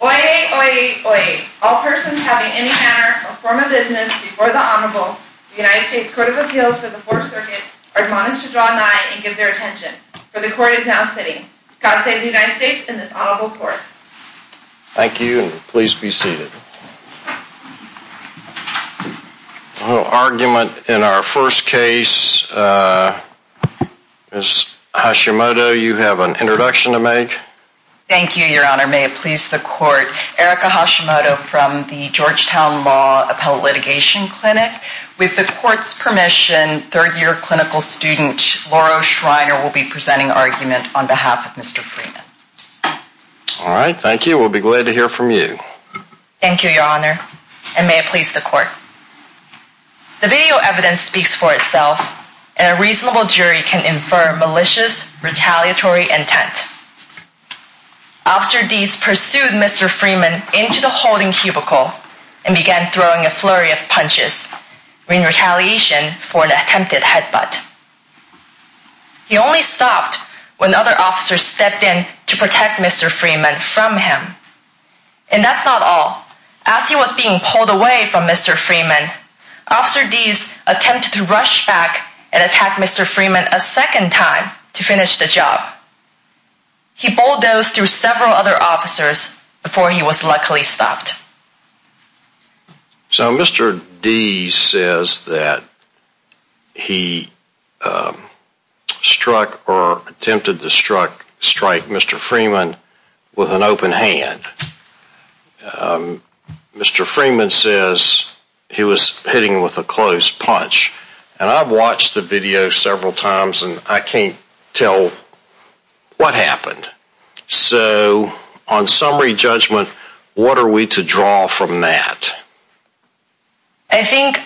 Oyez, oyez, oyez. All persons having any manner or form of business before the Honorable, the United States Court of Appeals for the Fourth Circuit, are admonished to draw nigh and give their attention, for the Court is now sitting. God save the United States and this Honorable Court. Thank you and please be seated. A little argument in our first case. Thank you, Your Honor. May it please the Court. Erica Hashimoto from the Georgetown Law Appellate Litigation Clinic. With the Court's permission, third-year clinical student, Laura Schreiner, will be presenting argument on behalf of Mr. Freeman. Alright, thank you. We'll be glad to hear from you. Thank you, Your Honor. And may it please the Court. The video evidence speaks for itself, and a reasonable jury can infer malicious, retaliatory intent. Officer Deas pursued Mr. Freeman into the holding cubicle and began throwing a flurry of punches in retaliation for an attempted headbutt. He only stopped when other officers stepped in to protect Mr. Freeman from him. And that's not all. As he was being pulled away from Mr. Freeman, Officer Deas attempted to rush back and attack Mr. Freeman a second time to finish the job. He bulldozed through several other officers before he was luckily stopped. So Mr. Deas says that he struck or attempted to strike Mr. Freeman with an open hand. Mr. Freeman says he was hitting with a close punch. And I've watched the video several times and I can't tell what happened. So, on summary judgment, what are we to draw from that? I think,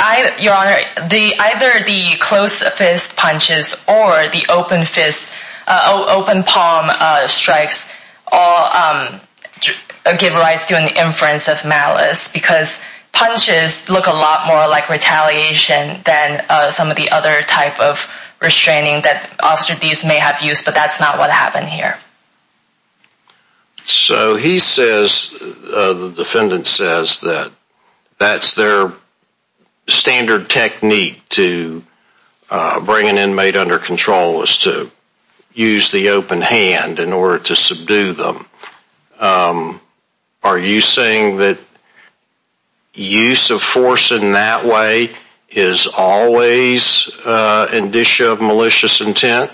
Your Honor, either the close fist punches or the open palm strikes all give rise to an inference of malice because punches look a lot more like retaliation than some of the other type of restraining that Officer Deas may have used, but that's not what happened here. So he says, the defendant says, that that's their standard technique to bring an inmate under control, is to use the open hand in order to subdue them. Are you saying that use of force in that way is always an issue of malicious intent?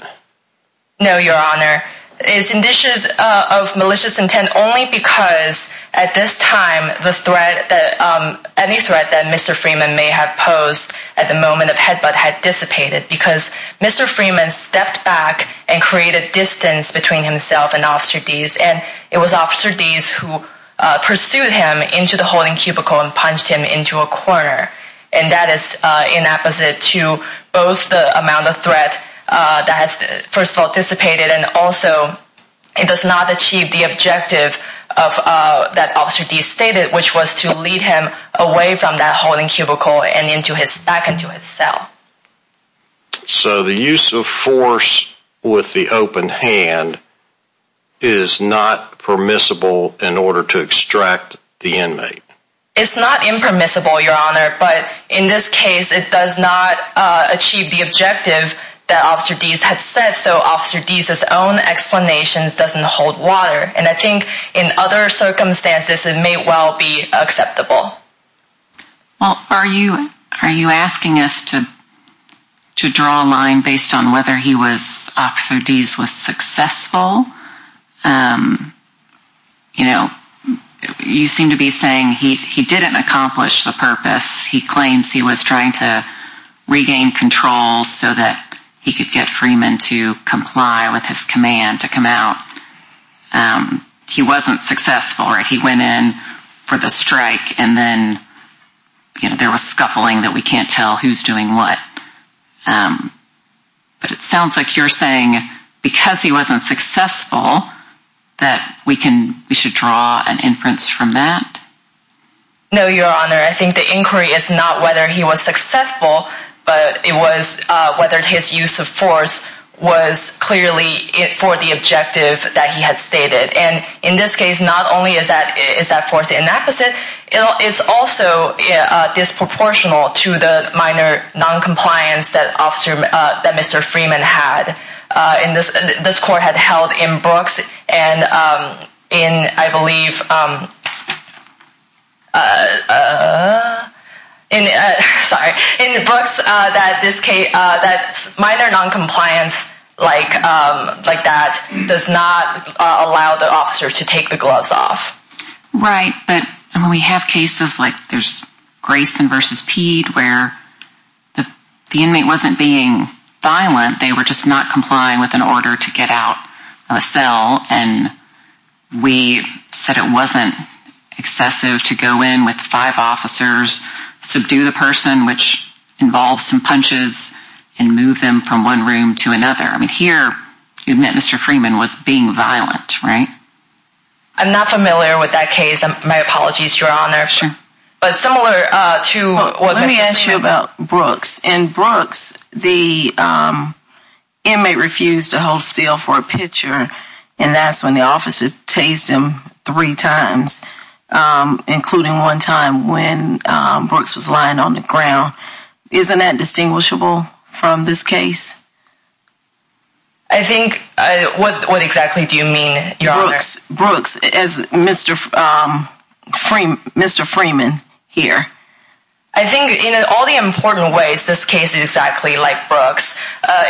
No, Your Honor, it's an issue of malicious intent only because at this time, any threat that Mr. Freeman may have posed at the moment of headbutt had dissipated because Mr. Freeman stepped back and created distance between himself and Officer Deas and it was Officer Deas who pursued him into the holding cubicle and punched him into a corner. And that is inapposite to both the amount of threat that has, first of all, dissipated and also it does not achieve the objective that Officer Deas stated, which was to lead him away from that holding cubicle and back into his cell. So the use of force with the open hand is not permissible in order to extract the inmate? It's not impermissible, Your Honor, but in this case it does not achieve the objective that Officer Deas had said, so Officer Deas' own explanation doesn't hold water. And I think in other circumstances it may well be acceptable. Well, are you asking us to draw a line based on whether he was, Officer Deas was successful? You know, you seem to be saying he didn't accomplish the purpose. He claims he was trying to regain control so that he could get Freeman to comply with his command to come out. He wasn't successful, right? He went in for the strike and then there was scuffling that we can't tell who's doing what. But it sounds like you're saying because he wasn't successful that we should draw an inference from that? No, Your Honor, I think the inquiry is not whether he was successful, but it was whether his use of force was clearly for the objective that he had stated. And in this case, not only is that force inapposite, it's also disproportional to the minor noncompliance that Mr. Freeman had. This court had held in Brooks and in, I believe, in Brooks that minor noncompliance like that does not allow the officer to take the gloves off. Right, but we have cases like there's Grayson v. Peed where the inmate wasn't being violent. They were just not complying with an order to get out of a cell and we said it wasn't excessive to go in with five officers, subdue the person, which involves some punches, and move them from one room to another. I mean, here you admit Mr. Freeman was being violent, right? I'm not familiar with that case. My apologies, Your Honor. Sure. Let me ask you about Brooks. In Brooks, the inmate refused to hold still for a picture and that's when the officer tased him three times, including one time when Brooks was lying on the ground. Isn't that distinguishable from this case? I think, what exactly do you mean, Your Honor? Brooks as Mr. Freeman here. I think in all the important ways, this case is exactly like Brooks.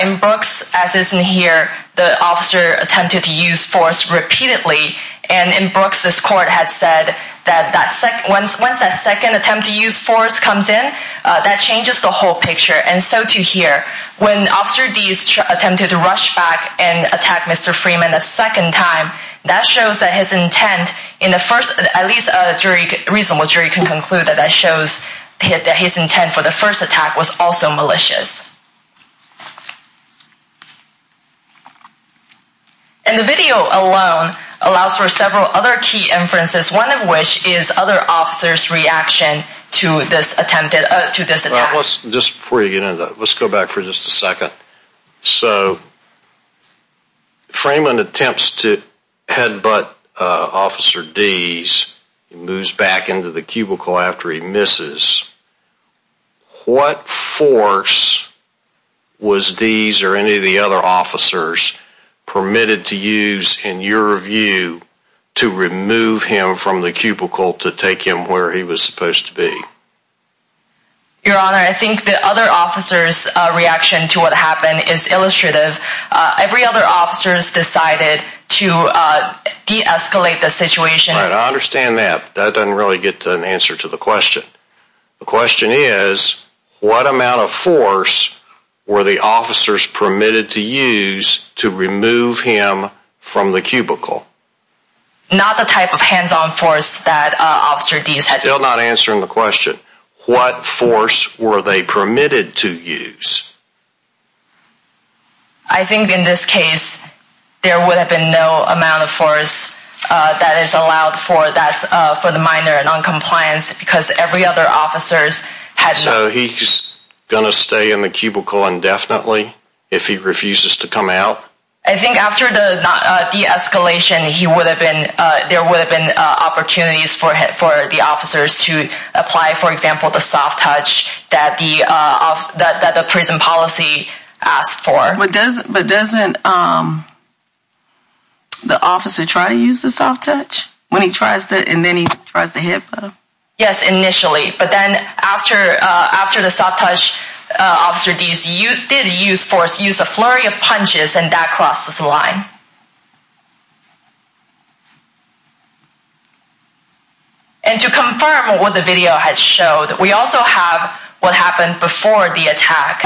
In Brooks, as is in here, the officer attempted to use force repeatedly. And in Brooks, this court had said that once that second attempt to use force comes in, that changes the whole picture. And so to here, when Officer Deese attempted to rush back and attack Mr. Freeman a second time, that shows that his intent in the first, at least a reasonable jury can conclude that that shows that his intent for the first attack was also malicious. And the video alone allows for several other key inferences, one of which is other officers' reaction to this attempted, to this attack. Let's, just before you get into that, let's go back for just a second. So, Freeman attempts to headbutt Officer Deese, moves back into the cubicle after he misses. What force was Deese or any of the other officers permitted to use, in your view, to remove him from the cubicle to take him where he was supposed to be? Your Honor, I think the other officers' reaction to what happened is illustrative. Every other officers decided to de-escalate the situation. Right, I understand that. That doesn't really get an answer to the question. The question is, what amount of force were the officers permitted to use to remove him from the cubicle? Not the type of hands-on force that Officer Deese had used. Still not answering the question. What force were they permitted to use? I think in this case, there would have been no amount of force that is allowed for the minor in non-compliance because every other officers had... So, he's going to stay in the cubicle indefinitely if he refuses to come out? I think after the de-escalation, there would have been opportunities for the officers to apply, for example, the soft touch that the prison policy asked for. But doesn't the officer try to use the soft touch? When he tries to, and then he tries to headbutt him? Yes, initially, but then after the soft touch, Officer Deese did use force, use a flurry of punches, and that crossed the line. And to confirm what the video had showed, we also have what happened before the attack.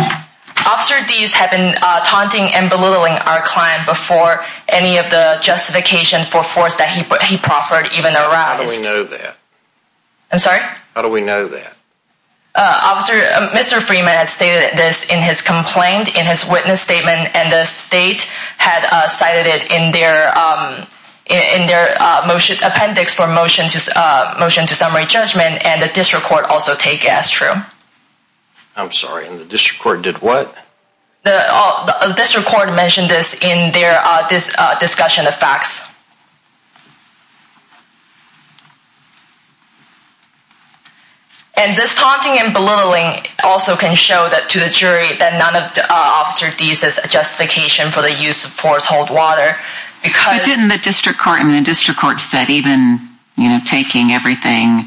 Officer Deese had been taunting and belittling our client before any of the justification for force that he proffered even arised. How do we know that? I'm sorry? How do we know that? Officer, Mr. Freeman had stated this in his complaint, in his witness statement, and the state had cited it in their appendix for motion to summary judgment, and the district court also take as true. I'm sorry, and the district court did what? The district court mentioned this in their discussion of facts. And this taunting and belittling also can show to the jury that none of Officer Deese's justification for the use of force hold water. But didn't the district court, and the district court said even taking everything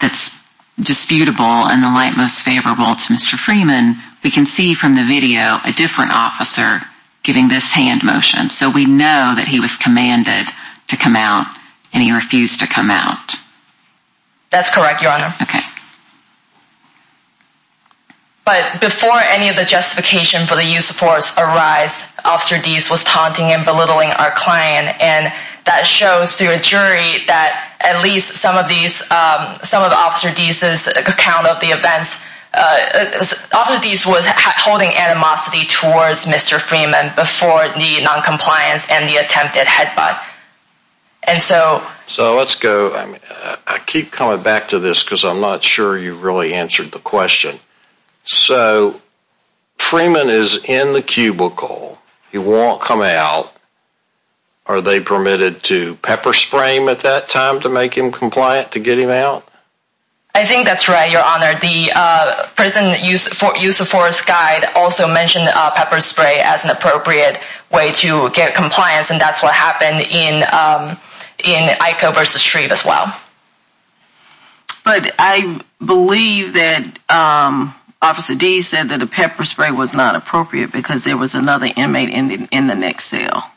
that's disputable and the light most favorable to Mr. Freeman, we can see from the video a different officer giving this hand motion. So we know that he was commanded to come out, and he refused to come out. That's correct, Your Honor. Okay. But before any of the justification for the use of force arised, Officer Deese was taunting and belittling our client. And that shows to a jury that at least some of these, some of Officer Deese's account of the events, Officer Deese was holding animosity towards Mr. Freeman before the noncompliance and the attempted headbutt. And so... So let's go, I keep coming back to this because I'm not sure you really answered the question. So, Freeman is in the cubicle, he won't come out. Are they permitted to pepper spray him at that time to make him compliant to get him out? I think that's right, Your Honor. The prison use of force guide also mentioned pepper spray as an appropriate way to get compliance, and that's what happened in IKO v. Shreve as well. But I believe that Officer Deese said that the pepper spray was not appropriate because there was another inmate in the next cell.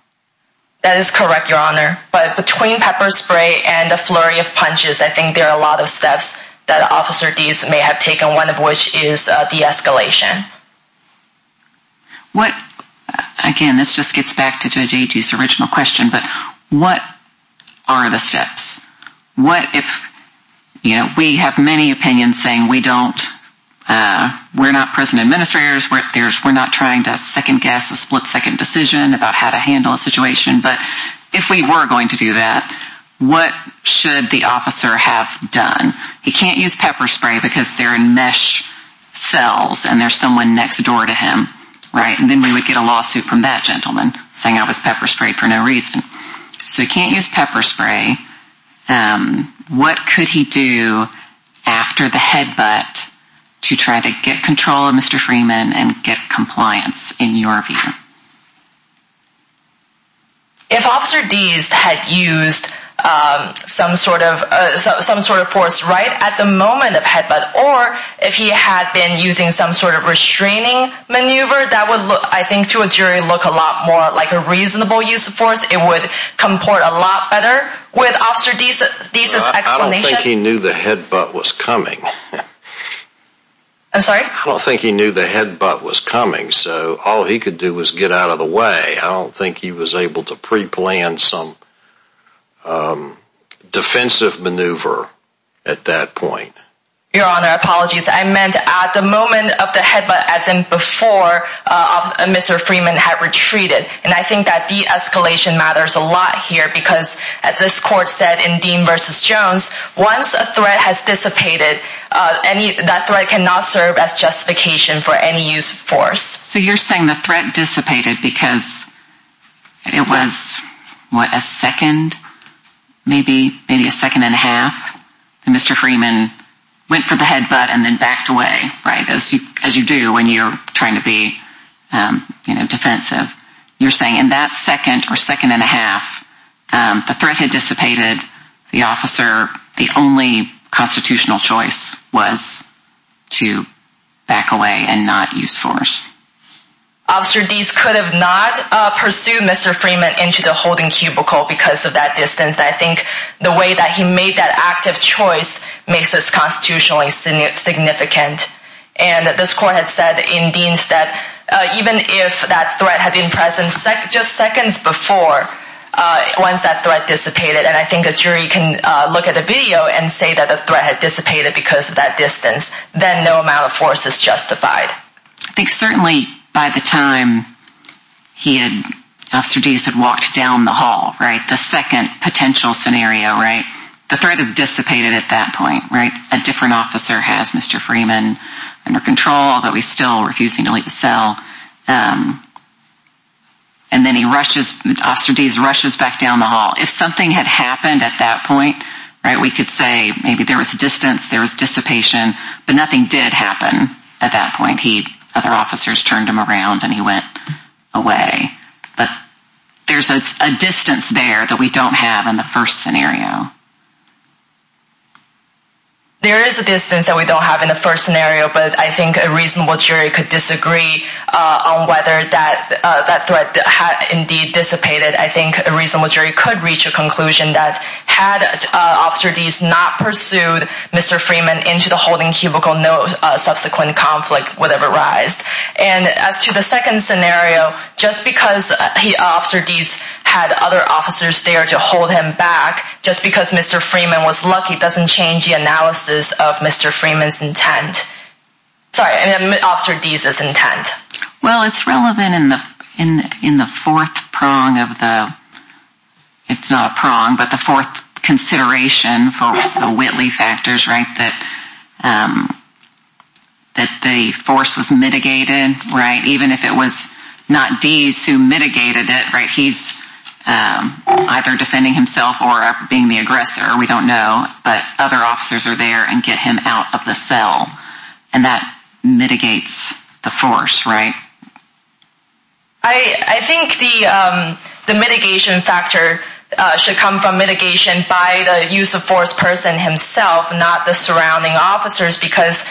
That is correct, Your Honor. But between pepper spray and the flurry of punches, I think there are a lot of steps that Officer Deese may have taken, one of which is de-escalation. Again, this just gets back to Judge Agee's original question, but what are the steps? We have many opinions saying we're not prison administrators, we're not trying to second-guess a split-second decision about how to handle a situation, but if we were going to do that, what should the officer have done? He can't use pepper spray because they're in mesh cells and there's someone next door to him, right? And then we would get a lawsuit from that gentleman saying I was pepper sprayed for no reason. So he can't use pepper spray. What could he do after the headbutt to try to get control of Mr. Freeman and get compliance, in your view? If Officer Deese had used some sort of force right at the moment of headbutt, or if he had been using some sort of restraining maneuver, that would, I think, to a jury, look a lot more like a reasonable use of force. It would comport a lot better with Officer Deese's explanation. I don't think he knew the headbutt was coming. I'm sorry? I don't think he knew the headbutt was coming, so all he could do was get out of the way. I don't think he was able to pre-plan some defensive maneuver at that point. Your Honor, apologies. I meant at the moment of the headbutt, as in before Mr. Freeman had retreated. And I think that de-escalation matters a lot here because, as this court said in Dean v. Jones, once a threat has dissipated, that threat cannot serve as justification for any use of force. So you're saying the threat dissipated because it was, what, a second? Maybe a second and a half? Mr. Freeman went for the headbutt and then backed away, right, as you do when you're trying to be defensive. You're saying in that second or second and a half, the threat had dissipated. The officer, the only constitutional choice was to back away and not use force. Officer Deese could have not pursued Mr. Freeman into the holding cubicle because of that distance. I think the way that he made that active choice makes this constitutionally significant. And this court had said in Dean's that even if that threat had been present just seconds before, once that threat dissipated, and I think a jury can look at the video and say that the threat had dissipated because of that distance, then no amount of force is justified. I think certainly by the time he had, Officer Deese had walked down the hall, right, the second potential scenario, right, the threat had dissipated at that point, right? A different officer has Mr. Freeman under control, although he's still refusing to let you sell. And then he rushes, Officer Deese rushes back down the hall. If something had happened at that point, right, we could say maybe there was distance, there was dissipation, but nothing did happen at that point. Other officers turned him around and he went away. There's a distance there that we don't have in the first scenario. There is a distance that we don't have in the first scenario, but I think a reasonable jury could disagree on whether that threat had indeed dissipated. I think a reasonable jury could reach a conclusion that had Officer Deese not pursued Mr. Freeman into the holding cubicle, no subsequent conflict would have arised. And as to the second scenario, just because Officer Deese had other officers there to hold him back, just because Mr. Freeman was lucky doesn't change the analysis of Mr. Freeman's intent. Sorry, Officer Deese's intent. Well, it's relevant in the fourth prong of the, it's not a prong, but the fourth consideration for the Whitley factors, right, that the force was mitigated, right, even if it was not Deese who mitigated it, right, he's either defending himself or being the aggressor, we don't know, but other officers are there and get him out of the cell and that mitigates the force, right? I think the mitigation factor should come from mitigation by the use of force person himself, not the surrounding officers, because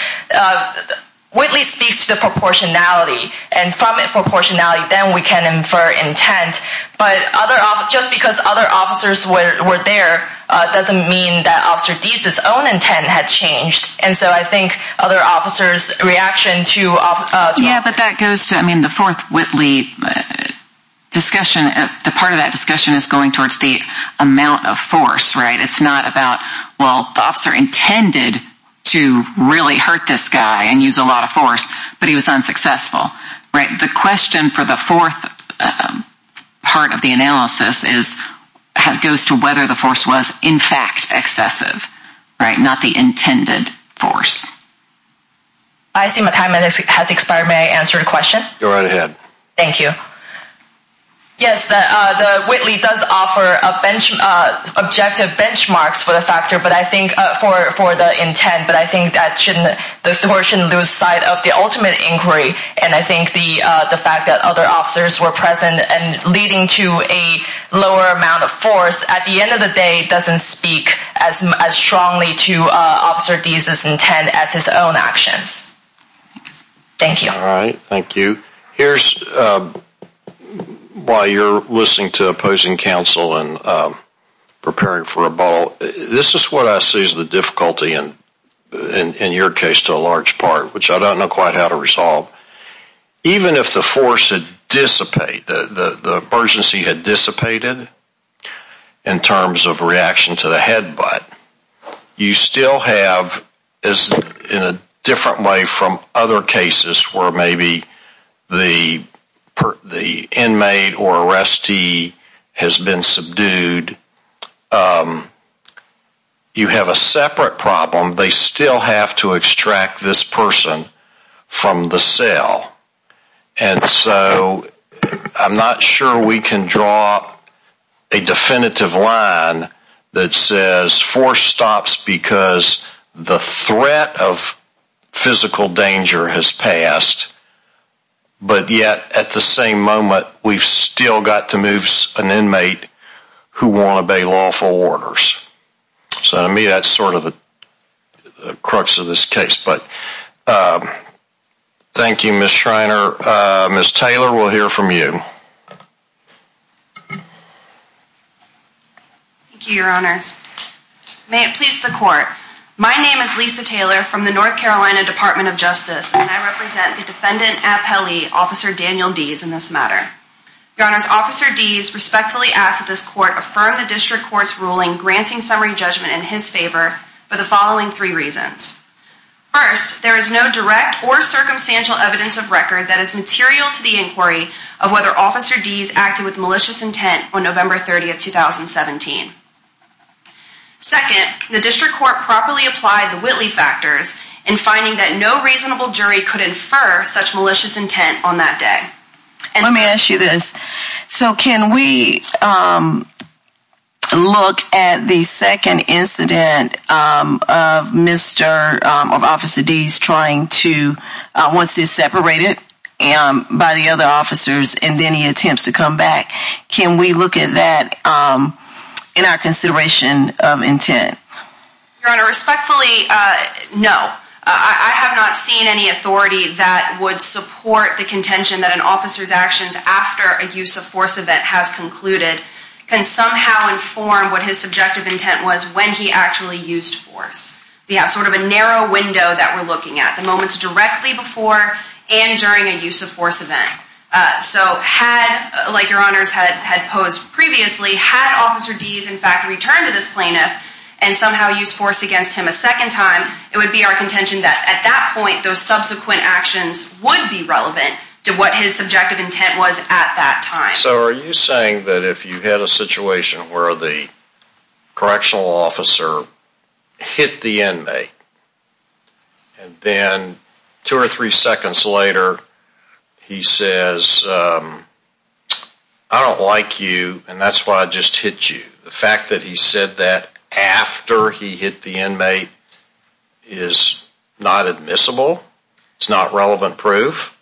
Whitley speaks to the proportionality, and from the proportionality then we can infer intent, but just because other officers were there doesn't mean that Officer Deese's own intent had changed, and so I think other officers' reaction to... Yeah, but that goes to, I mean, the fourth Whitley discussion, the part of that discussion is going towards the amount of force, right, it's not about, well, the officer intended to really hurt this guy and use a lot of force, but he was unsuccessful, right? The question for the fourth part of the analysis is, it goes to whether the force was in fact excessive, right, not the intended force. I see my time has expired, may I answer your question? Go right ahead. Thank you. Yes, the Whitley does offer objective benchmarks for the intent, but I think the court shouldn't lose sight of the ultimate inquiry, and I think the fact that other officers were present and leading to a lower amount of force, at the end of the day doesn't speak as strongly to Officer Deese's intent as his own actions. Thank you. All right, thank you. Here's why you're listening to opposing counsel and preparing for a bottle. This is what I see as the difficulty in your case to a large part, which I don't know quite how to resolve. Even if the force had dissipated, the emergency had dissipated in terms of reaction to the headbutt, you still have, in a different way from other cases where maybe the inmate or arrestee has been subdued, you have a separate problem. They still have to extract this person from the cell, and so I'm not sure we can draw a definitive line that says force stops because the threat of physical danger has passed, but yet at the same moment, we've still got to move an inmate who won't obey lawful orders. So to me, that's sort of the crux of this case. But thank you, Ms. Schreiner. Ms. Taylor, we'll hear from you. Thank you, Your Honors. May it please the court. My name is Lisa Taylor from the North Carolina Department of Justice, and I represent the defendant appellee, Officer Daniel Dees, in this matter. Your Honors, Officer Dees respectfully asks that this court affirm the district court's ruling granting summary judgment in his favor for the following three reasons. First, there is no direct or circumstantial evidence of record that is material to the inquiry of whether Officer Dees acted with malicious intent on November 30, 2017. Second, the district court properly applied the Whitley factors in finding that no reasonable jury could infer such malicious intent on that day. Let me ask you this. So can we look at the second incident of Officer Dees trying to, once he's separated by the other officers and then he attempts to come back, can we look at that in our consideration of intent? Your Honor, respectfully, no. I have not seen any authority that would support the contention that an officer's actions after a use of force event has concluded can somehow inform what his subjective intent was when he actually used force. We have sort of a narrow window that we're looking at, the moments directly before and during a use of force event. So had, like Your Honors had posed previously, had Officer Dees, in fact, returned to this plaintiff and somehow used force against him a second time, it would be our contention that at that point those subsequent actions would be relevant to what his subjective intent was at that time. So are you saying that if you had a situation where the correctional officer hit the inmate and then two or three seconds later he says, I don't like you and that's why I just hit you, the fact that he said that after he hit the inmate is not admissible? It's not relevant proof?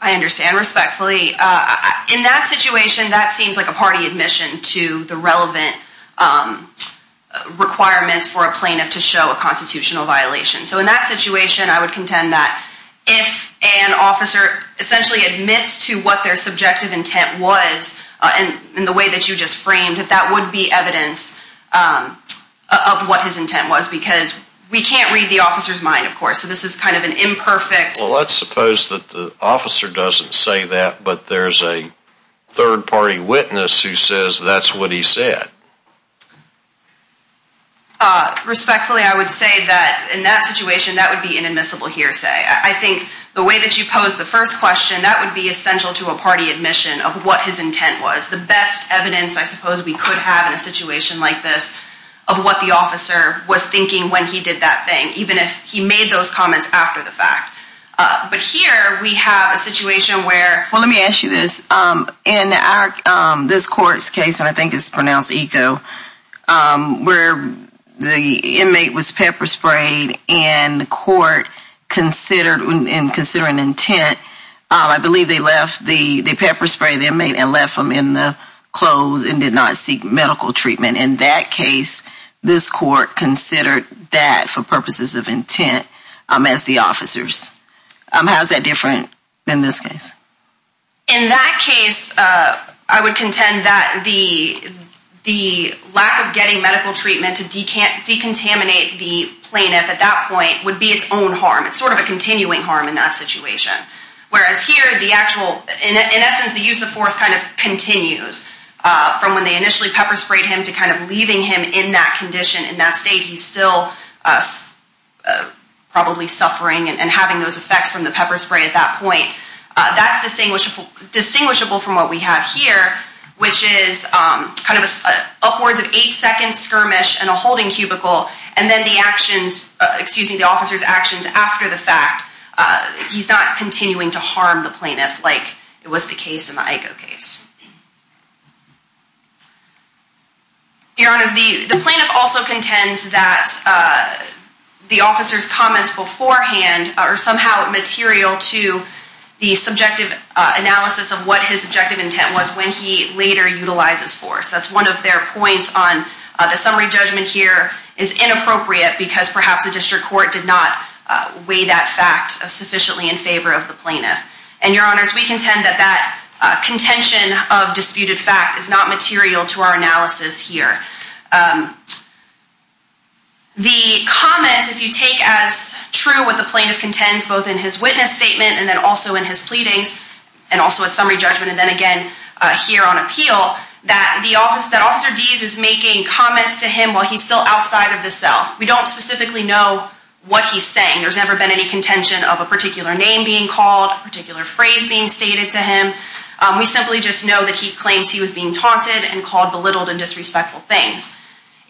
I understand respectfully. In that situation, that seems like a party admission to the relevant requirements for a plaintiff to show a constitutional violation. So in that situation, I would contend that if an officer essentially admits to what their subjective intent was in the way that you just framed, that that would be evidence of what his intent was because we can't read the officer's mind, of course, so this is kind of an imperfect. Well, let's suppose that the officer doesn't say that but there's a third party witness who says that's what he said. Respectfully, I would say that in that situation, that would be an admissible hearsay. I think the way that you posed the first question, that would be essential to a party admission of what his intent was. The best evidence I suppose we could have in a situation like this of what the officer was thinking when he did that thing, even if he made those comments after the fact. But here we have a situation where... where the inmate was pepper-sprayed and the court considered an intent. I believe they pepper-sprayed the inmate and left him in the clothes and did not seek medical treatment. In that case, this court considered that for purposes of intent as the officers. How is that different than this case? In that case, I would contend that the lack of getting medical treatment to decontaminate the plaintiff at that point would be its own harm. It's sort of a continuing harm in that situation. Whereas here, in essence, the use of force kind of continues from when they initially pepper-sprayed him to kind of leaving him in that condition. In that state, he's still probably suffering and having those effects from the pepper-spray at that point. That's distinguishable from what we have here, which is kind of an upwards of 8-second skirmish in a holding cubicle and then the officer's actions after the fact. He's not continuing to harm the plaintiff like it was the case in the IKO case. Your Honor, the plaintiff also contends that the officer's comments beforehand are somehow material to the subjective analysis of what his objective intent was when he later utilizes force. That's one of their points on the summary judgment here is inappropriate because perhaps the district court did not weigh that fact sufficiently in favor of the plaintiff. And, Your Honors, we contend that that contention of disputed fact is not material to our analysis here. The comments, if you take as true what the plaintiff contends both in his witness statement and then also in his pleadings and also at summary judgment and then again here on appeal, that Officer Deese is making comments to him while he's still outside of the cell. We don't specifically know what he's saying. There's never been any contention of a particular name being called, a particular phrase being stated to him. We simply just know that he claims he was being taunted and called belittled and disrespectful things.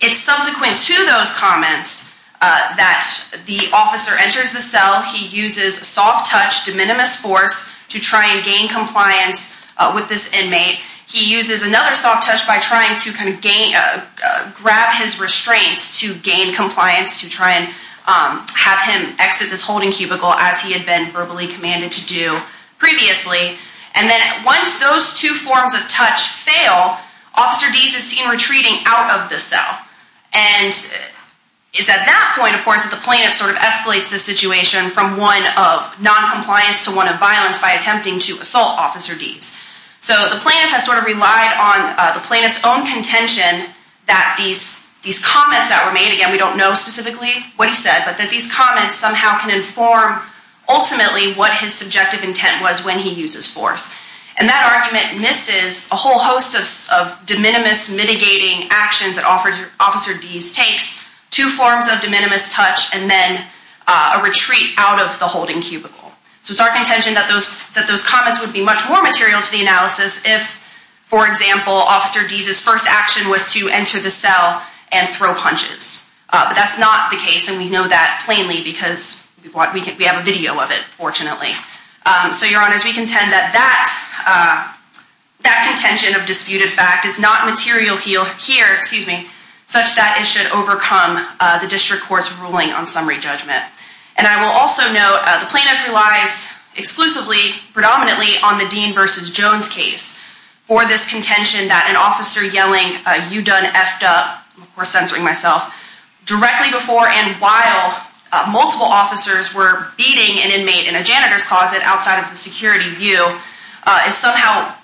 It's subsequent to those comments that the officer enters the cell. He uses soft touch, de minimis force, to try and gain compliance with this inmate. He uses another soft touch by trying to grab his restraints to gain compliance to try and have him exit this holding cubicle as he had been verbally commanded to do previously. And then once those two forms of touch fail, Officer Deese is seen retreating out of the cell. And it's at that point, of course, that the plaintiff sort of escalates the situation from one of noncompliance to one of violence by attempting to assault Officer Deese. So the plaintiff has sort of relied on the plaintiff's own contention that these comments that were made, again, we don't know specifically what he said, but that these comments somehow can inform ultimately what his subjective intent was when he uses force. And that argument misses a whole host of de minimis mitigating actions that Officer Deese takes. Two forms of de minimis touch and then a retreat out of the holding cubicle. So it's our contention that those comments would be much more material to the analysis if, for example, Officer Deese's first action was to enter the cell and throw punches. But that's not the case, and we know that plainly because we have a video of it, fortunately. So, Your Honors, we contend that that contention of disputed fact is not material here, such that it should overcome the district court's ruling on summary judgment. And I will also note the plaintiff relies exclusively, predominantly, on the Dean versus Jones case for this contention that an officer yelling, you done effed up, of course censoring myself, directly before and while multiple officers were beating an inmate in a janitor's closet outside of the security view is somehow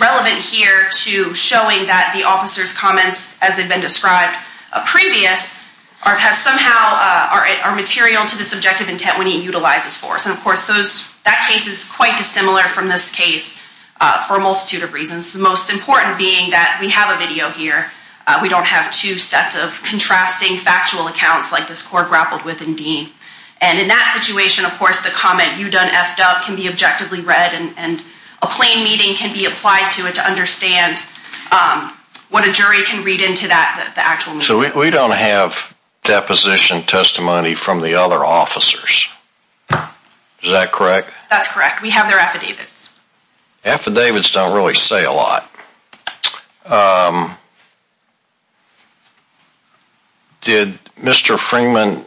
relevant here to showing that the officer's comments, as they've been described previous, somehow are material to the subjective intent when he utilizes force. And, of course, that case is quite dissimilar from this case for a multitude of reasons, the most important being that we have a video here. We don't have two sets of contrasting factual accounts like this court grappled with in Dean. And in that situation, of course, the comment, you done effed up, can be objectively read and a plain meeting can be applied to it to understand what a jury can read into that, the actual meeting. So we don't have deposition testimony from the other officers. Is that correct? That's correct. We have their affidavits. Affidavits don't really say a lot. Did Mr. Freeman,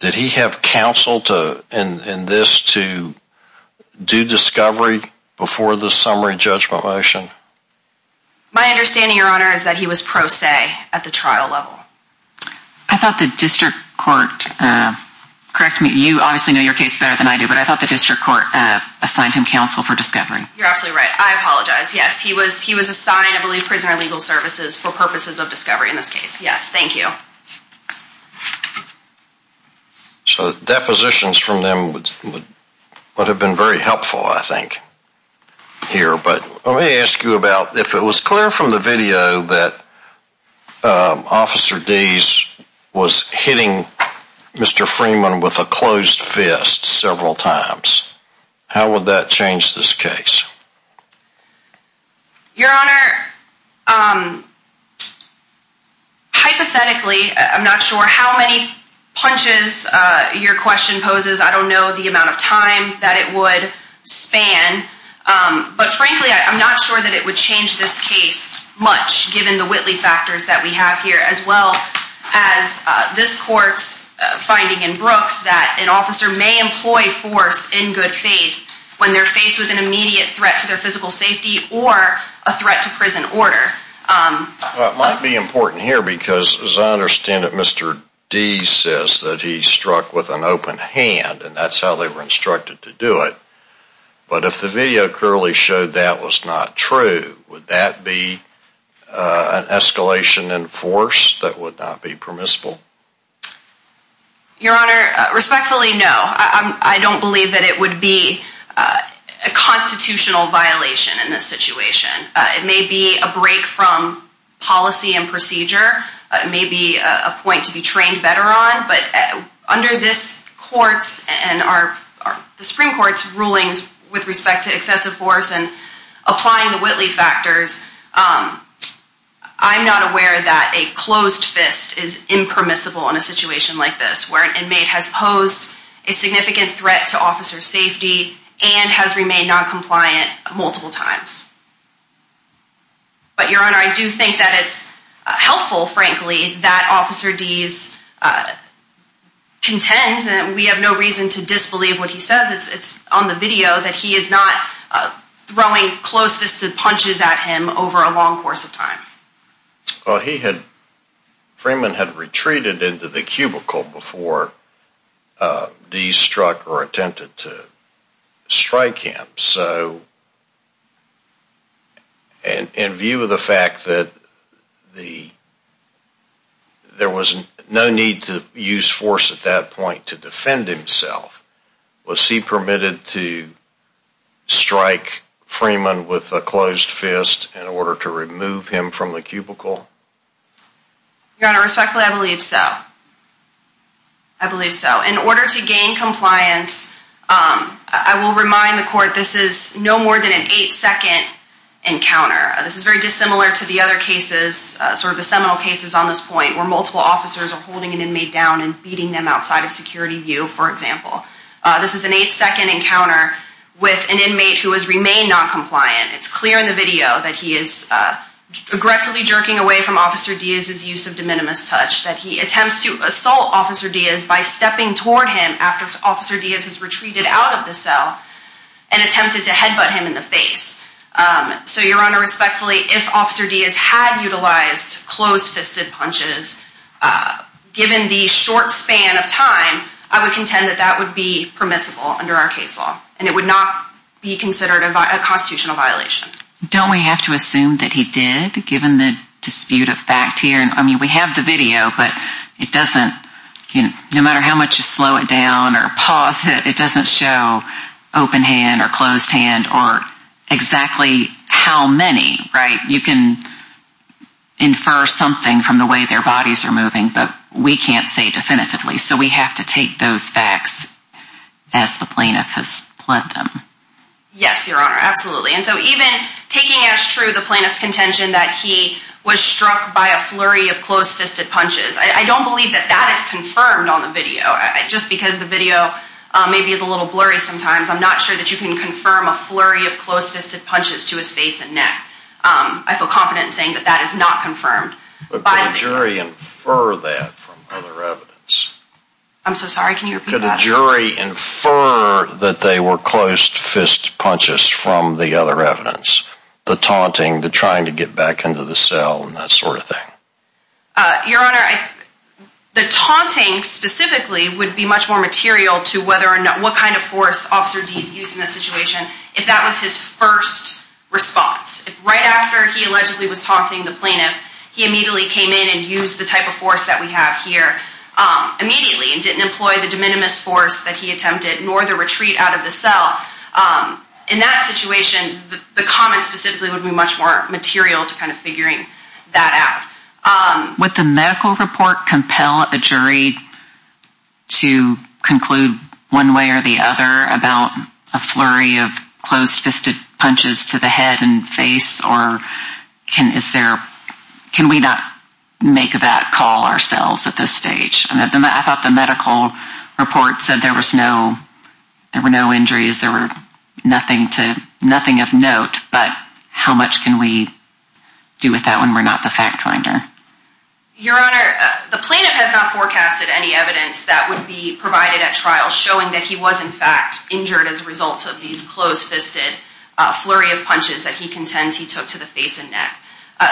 did he have counsel in this to do discovery before the summary judgment motion? My understanding, Your Honor, is that he was pro se at the trial level. I thought the district court, correct me, you obviously know your case better than I do, but I thought the district court assigned him counsel for discovery. You're absolutely right. I apologize. Yes, he was assigned, I believe, prisoner of legal services for purposes of discovery in this case. Yes, thank you. So depositions from them would have been very helpful, I think, here. But let me ask you about if it was clear from the video that Officer Dease was hitting Mr. Freeman with a closed fist several times, how would that change this case? Your Honor, hypothetically, I'm not sure how many punches your question poses. I don't know the amount of time that it would span. But frankly, I'm not sure that it would change this case much, given the Whitley factors that we have here, as well as this court's finding in Brooks that an officer may employ force in good faith when they're faced with an immediate threat to their physical safety or a threat to prison order. It might be important here because, as I understand it, Mr. Dease says that he struck with an open hand, and that's how they were instructed to do it. But if the video clearly showed that was not true, would that be an escalation in force that would not be permissible? Your Honor, respectfully, no. I don't believe that it would be a constitutional violation in this situation. It may be a break from policy and procedure. It may be a point to be trained better on. But under this court's and the Supreme Court's rulings with respect to excessive force and applying the Whitley factors, I'm not aware that a closed fist is impermissible in a situation like this, where an inmate has posed a significant threat to officer safety and has remained noncompliant multiple times. But, Your Honor, I do think that it's helpful, frankly, that Officer Dease contends, and we have no reason to disbelieve what he says. It's on the video that he is not throwing closed-fisted punches at him over a long course of time. Well, he had, Freeman had retreated into the cubicle before Dease struck or attempted to strike him. So, in view of the fact that there was no need to use force at that point to defend himself, was he permitted to strike Freeman with a closed fist in order to remove him from the cubicle? Your Honor, respectfully, I believe so. I believe so. In order to gain compliance, I will remind the court this is no more than an 8-second encounter. This is very dissimilar to the other cases, sort of the seminal cases on this point, where multiple officers are holding an inmate down and beating them outside of security view, for example. This is an 8-second encounter with an inmate who has remained noncompliant. It's clear in the video that he is aggressively jerking away from Officer Dease's use of de minimis touch, that he attempts to assault Officer Dease by stepping toward him after Officer Dease has retreated out of the cell and attempted to headbutt him in the face. So, Your Honor, respectfully, if Officer Dease had utilized closed-fisted punches, given the short span of time, I would contend that that would be permissible under our case law, and it would not be considered a constitutional violation. Don't we have to assume that he did, given the dispute of fact here? I mean, we have the video, but it doesn't, no matter how much you slow it down or pause it, it doesn't show open hand or closed hand or exactly how many, right? You can infer something from the way their bodies are moving, but we can't say definitively. So we have to take those facts as the plaintiff has pled them. Yes, Your Honor, absolutely. And so even taking as true the plaintiff's contention that he was struck by a flurry of closed-fisted punches, I don't believe that that is confirmed on the video. Just because the video maybe is a little blurry sometimes, I'm not sure that you can confirm a flurry of closed-fisted punches to his face and neck. I feel confident in saying that that is not confirmed. But could a jury infer that from other evidence? I'm so sorry, can you repeat that? Could a jury infer that they were closed-fist punches from the other evidence? The taunting, the trying to get back into the cell and that sort of thing. Your Honor, the taunting specifically would be much more material to what kind of force Officer Deese used in this situation if that was his first response. If right after he allegedly was taunting the plaintiff, he immediately came in and used the type of force that we have here immediately and didn't employ the de minimis force that he attempted, nor the retreat out of the cell. In that situation, the comment specifically would be much more material to kind of figuring that out. Would the medical report compel a jury to conclude one way or the other about a flurry of closed-fisted punches to the head and face? Or can we not make that call ourselves at this stage? I thought the medical report said there were no injuries, there were nothing of note, but how much can we do with that when we're not the fact finder? Your Honor, the plaintiff has not forecasted any evidence that would be provided at trial showing that he was in fact injured as a result of these closed-fisted flurry of punches that he contends he took to the face and neck.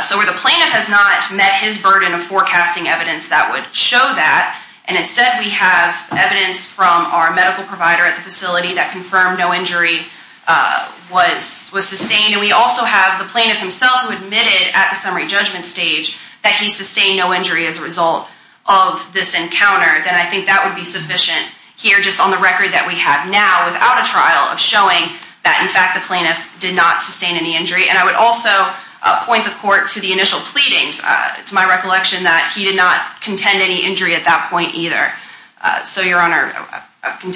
So where the plaintiff has not met his burden of forecasting evidence that would show that, and instead we have evidence from our medical provider at the facility that confirmed no injury was sustained, and we also have the plaintiff himself who admitted at the summary judgment stage that he sustained no injury as a result of this encounter, then I think that would be sufficient here just on the record that we have now without a trial of showing that in fact the plaintiff did not sustain any injury. And I would also point the court to the initial pleadings. It's my recollection that he did not contend any injury at that point either. So, Your Honor,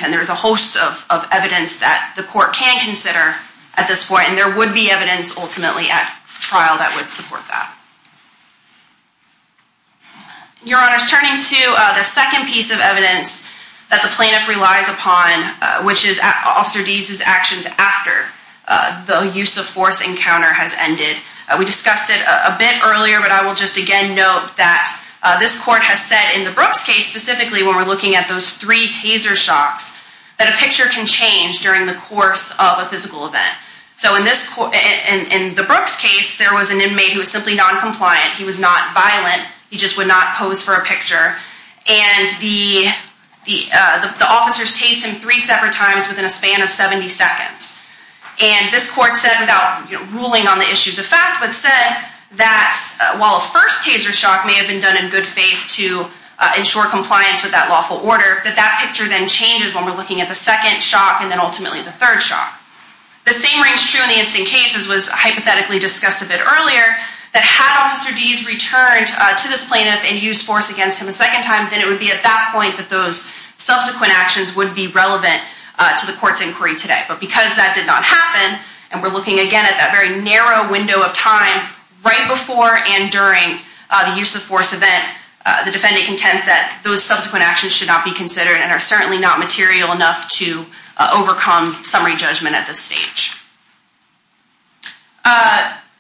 there is a host of evidence that the court can consider at this point, and there would be evidence ultimately at trial that would support that. Your Honor, turning to the second piece of evidence that the plaintiff relies upon, which is Officer Deese's actions after the use-of-force encounter has ended. We discussed it a bit earlier, but I will just again note that this court has said, in the Brooks case specifically when we're looking at those three taser shocks, that a picture can change during the course of a physical event. So in the Brooks case, there was an inmate who was simply noncompliant. He was not violent. He just would not pose for a picture. And the officers tased him three separate times within a span of 70 seconds. And this court said, without ruling on the issues of fact, but said that while a first taser shock may have been done in good faith to ensure compliance with that lawful order, that that picture then changes when we're looking at the second shock and then ultimately the third shock. The same rings true in the instant case, as was hypothetically discussed a bit earlier, that had Officer Deese returned to this plaintiff and used force against him a second time, then it would be at that point that those subsequent actions would be relevant to the court's inquiry today. But because that did not happen, and we're looking again at that very narrow window of time, right before and during the use-of-force event, the defendant contends that those subsequent actions should not be considered and are certainly not material enough to overcome summary judgment at this stage.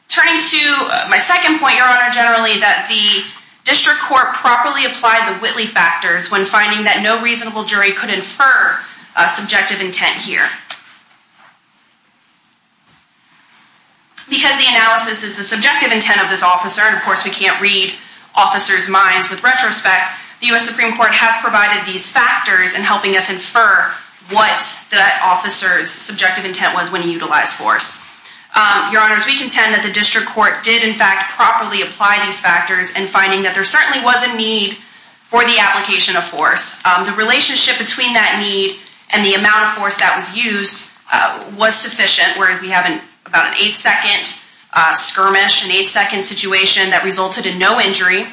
Turning to my second point, Your Honor, generally, that the district court properly applied the Whitley factors when finding that no reasonable jury could infer subjective intent here. Because the analysis is the subjective intent of this officer, and of course we can't read officers' minds with retrospect, the U.S. Supreme Court has provided these factors in helping us infer what the officer's subjective intent was when he utilized force. Your Honors, we contend that the district court did in fact properly apply these factors in finding that there certainly was a need for the application of force. The relationship between that need and the amount of force that was used was sufficient, where we have about an 8-second skirmish, an 8-second situation that resulted in no injury.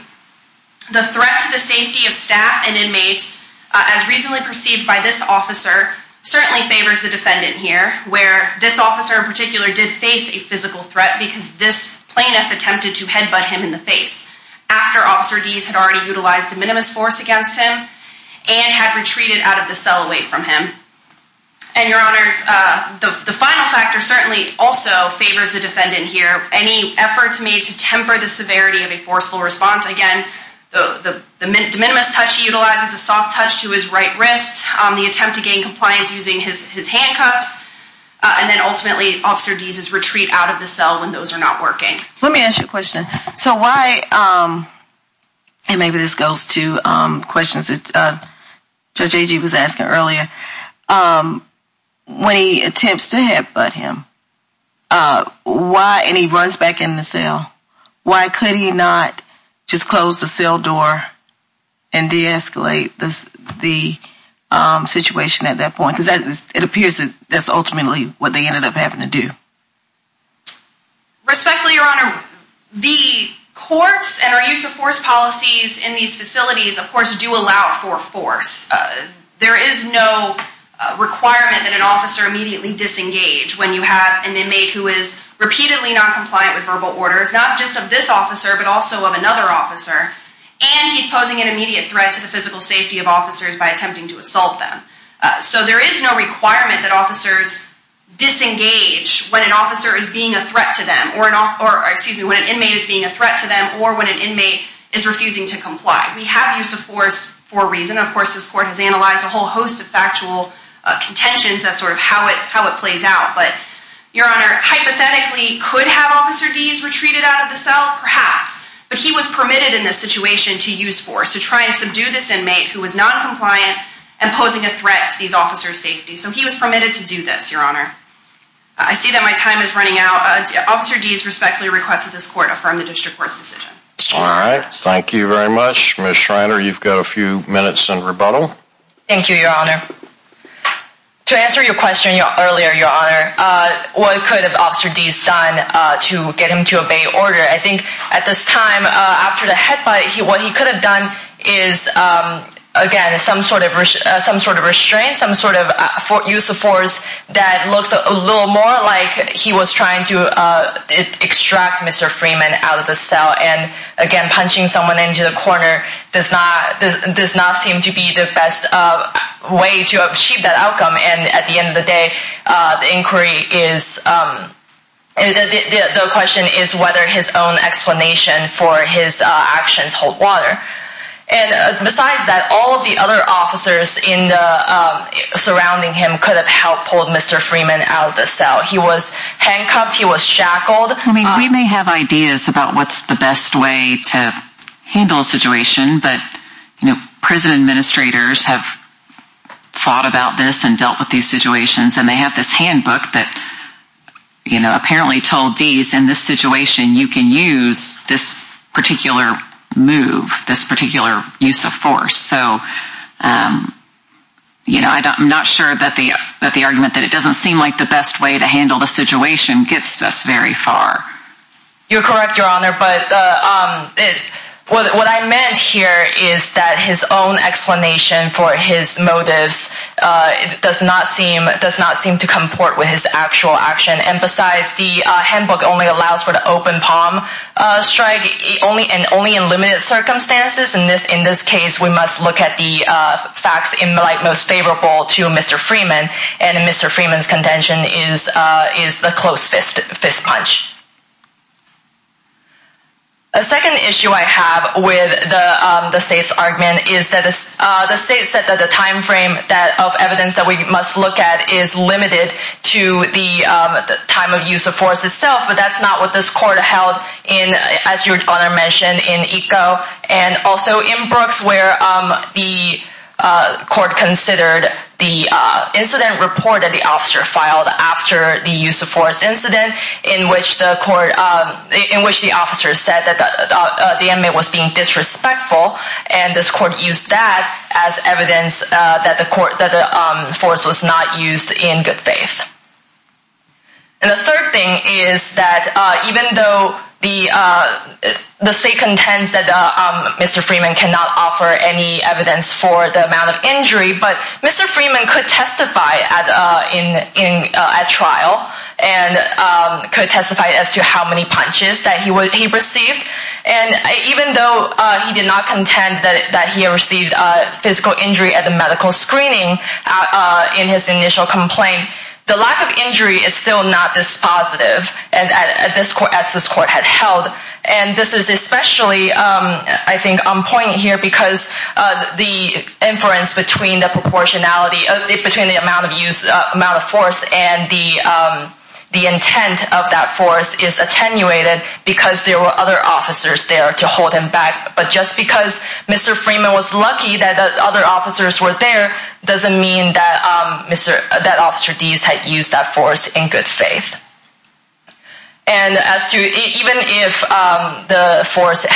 The threat to the safety of staff and inmates, as reasonably perceived by this officer, certainly favors the defendant here, where this officer in particular did face a physical threat because this plaintiff attempted to headbutt him in the face after Officer Deese had already utilized a minimus force against him and had retreated out of the cell away from him. And, Your Honors, the final factor certainly also favors the defendant here. Any efforts made to temper the severity of a forceful response, again, the minimus touch he utilizes, the soft touch to his right wrist, the attempt to gain compliance using his handcuffs, and then ultimately Officer Deese's retreat out of the cell when those are not working. Let me ask you a question. So why, and maybe this goes to questions that Judge Agee was asking earlier, when he attempts to headbutt him, why, and he runs back in the cell, why could he not just close the cell door and de-escalate the situation at that point? Because it appears that's ultimately what they ended up having to do. Respectfully, Your Honor, the courts and our use of force policies in these facilities, of course, do allow for force. There is no requirement that an officer immediately disengage when you have an inmate who is repeatedly not compliant with verbal orders, not just of this officer, but also of another officer, and he's posing an immediate threat to the physical safety of officers by attempting to assault them. So there is no requirement that officers disengage when an officer is being a threat to them, or, excuse me, when an inmate is being a threat to them, or when an inmate is refusing to comply. We have use of force for a reason. Of course, this court has analyzed a whole host of factual contentions. That's sort of how it plays out. But, Your Honor, hypothetically, could have Officer Dees retreated out of the cell? Perhaps. But he was permitted in this situation to use force, to try and subdue this inmate who was noncompliant and posing a threat to these officers' safety. So he was permitted to do this, Your Honor. I see that my time is running out. Officer Dees respectfully requests that this court affirm the district court's decision. All right. Thank you very much. Ms. Schreiner, you've got a few minutes in rebuttal. Thank you, Your Honor. To answer your question earlier, Your Honor, what could have Officer Dees done to get him to obey order? I think at this time, after the headbutt, what he could have done is, again, some sort of restraint, some sort of use of force that looks a little more like he was trying to extract Mr. Freeman out of the cell. And, again, punching someone into the corner does not seem to be the best way to achieve that outcome. And at the end of the day, the inquiry is, the question is whether his own explanation for his actions hold water. And besides that, all of the other officers surrounding him could have helped pull Mr. Freeman out of the cell. He was handcuffed. He was shackled. I mean, we may have ideas about what's the best way to handle a situation, but prison administrators have thought about this and dealt with these situations, and they have this handbook that apparently told Dees, in this situation, you can use this particular move, this particular use of force. So, you know, I'm not sure that the argument that it doesn't seem like the best way to handle the situation gets us very far. You're correct, Your Honor, but what I meant here is that his own explanation for his motives does not seem to comport with his actual action. And besides, the handbook only allows for the open palm strike, and only in limited circumstances. In this case, we must look at the facts in light most favorable to Mr. Freeman, and Mr. Freeman's contention is the close fist punch. A second issue I have with the State's argument is that the State said that the time frame of evidence that we must look at is limited to the time of use of force itself, but that's not what this Court held in, as Your Honor mentioned, in Eco, and also in Brooks, where the Court considered the incident report that the officer filed after the use of force incident, in which the officer said that the inmate was being disrespectful, and this Court used that as evidence that the force was not used in good faith. And the third thing is that even though the State contends that Mr. Freeman cannot offer any evidence for the amount of injury, but Mr. Freeman could testify at trial, and could testify as to how many punches that he received, and even though he did not contend that he received physical injury at the medical screening in his initial complaint, the lack of injury is still not this positive as this Court had held. And this is especially, I think, on point here because the inference between the proportionality, between the amount of use, amount of force, and the intent of that force is attenuated because there were other officers there to hold him back. But just because Mr. Freeman was lucky that other officers were there doesn't mean that Officer Deese had used that force in good faith. And even if the force could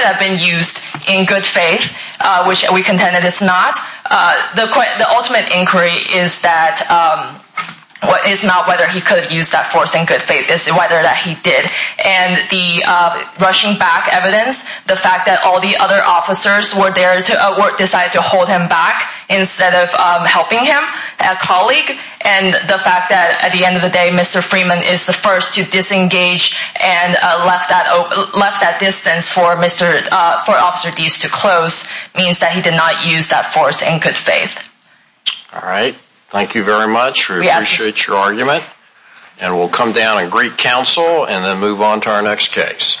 have been used in good faith, which we contend that it's not, the ultimate inquiry is not whether he could use that force in good faith, it's whether that he did. And the rushing back evidence, the fact that all the other officers were there to decide to hold him back instead of helping him, a colleague, and the fact that at the end of the day Mr. Freeman is the first to disengage and left that distance for Officer Deese to close means that he did not use that force in good faith. All right. Thank you very much. We appreciate your argument. And we'll come down and greet counsel and then move on to our next case.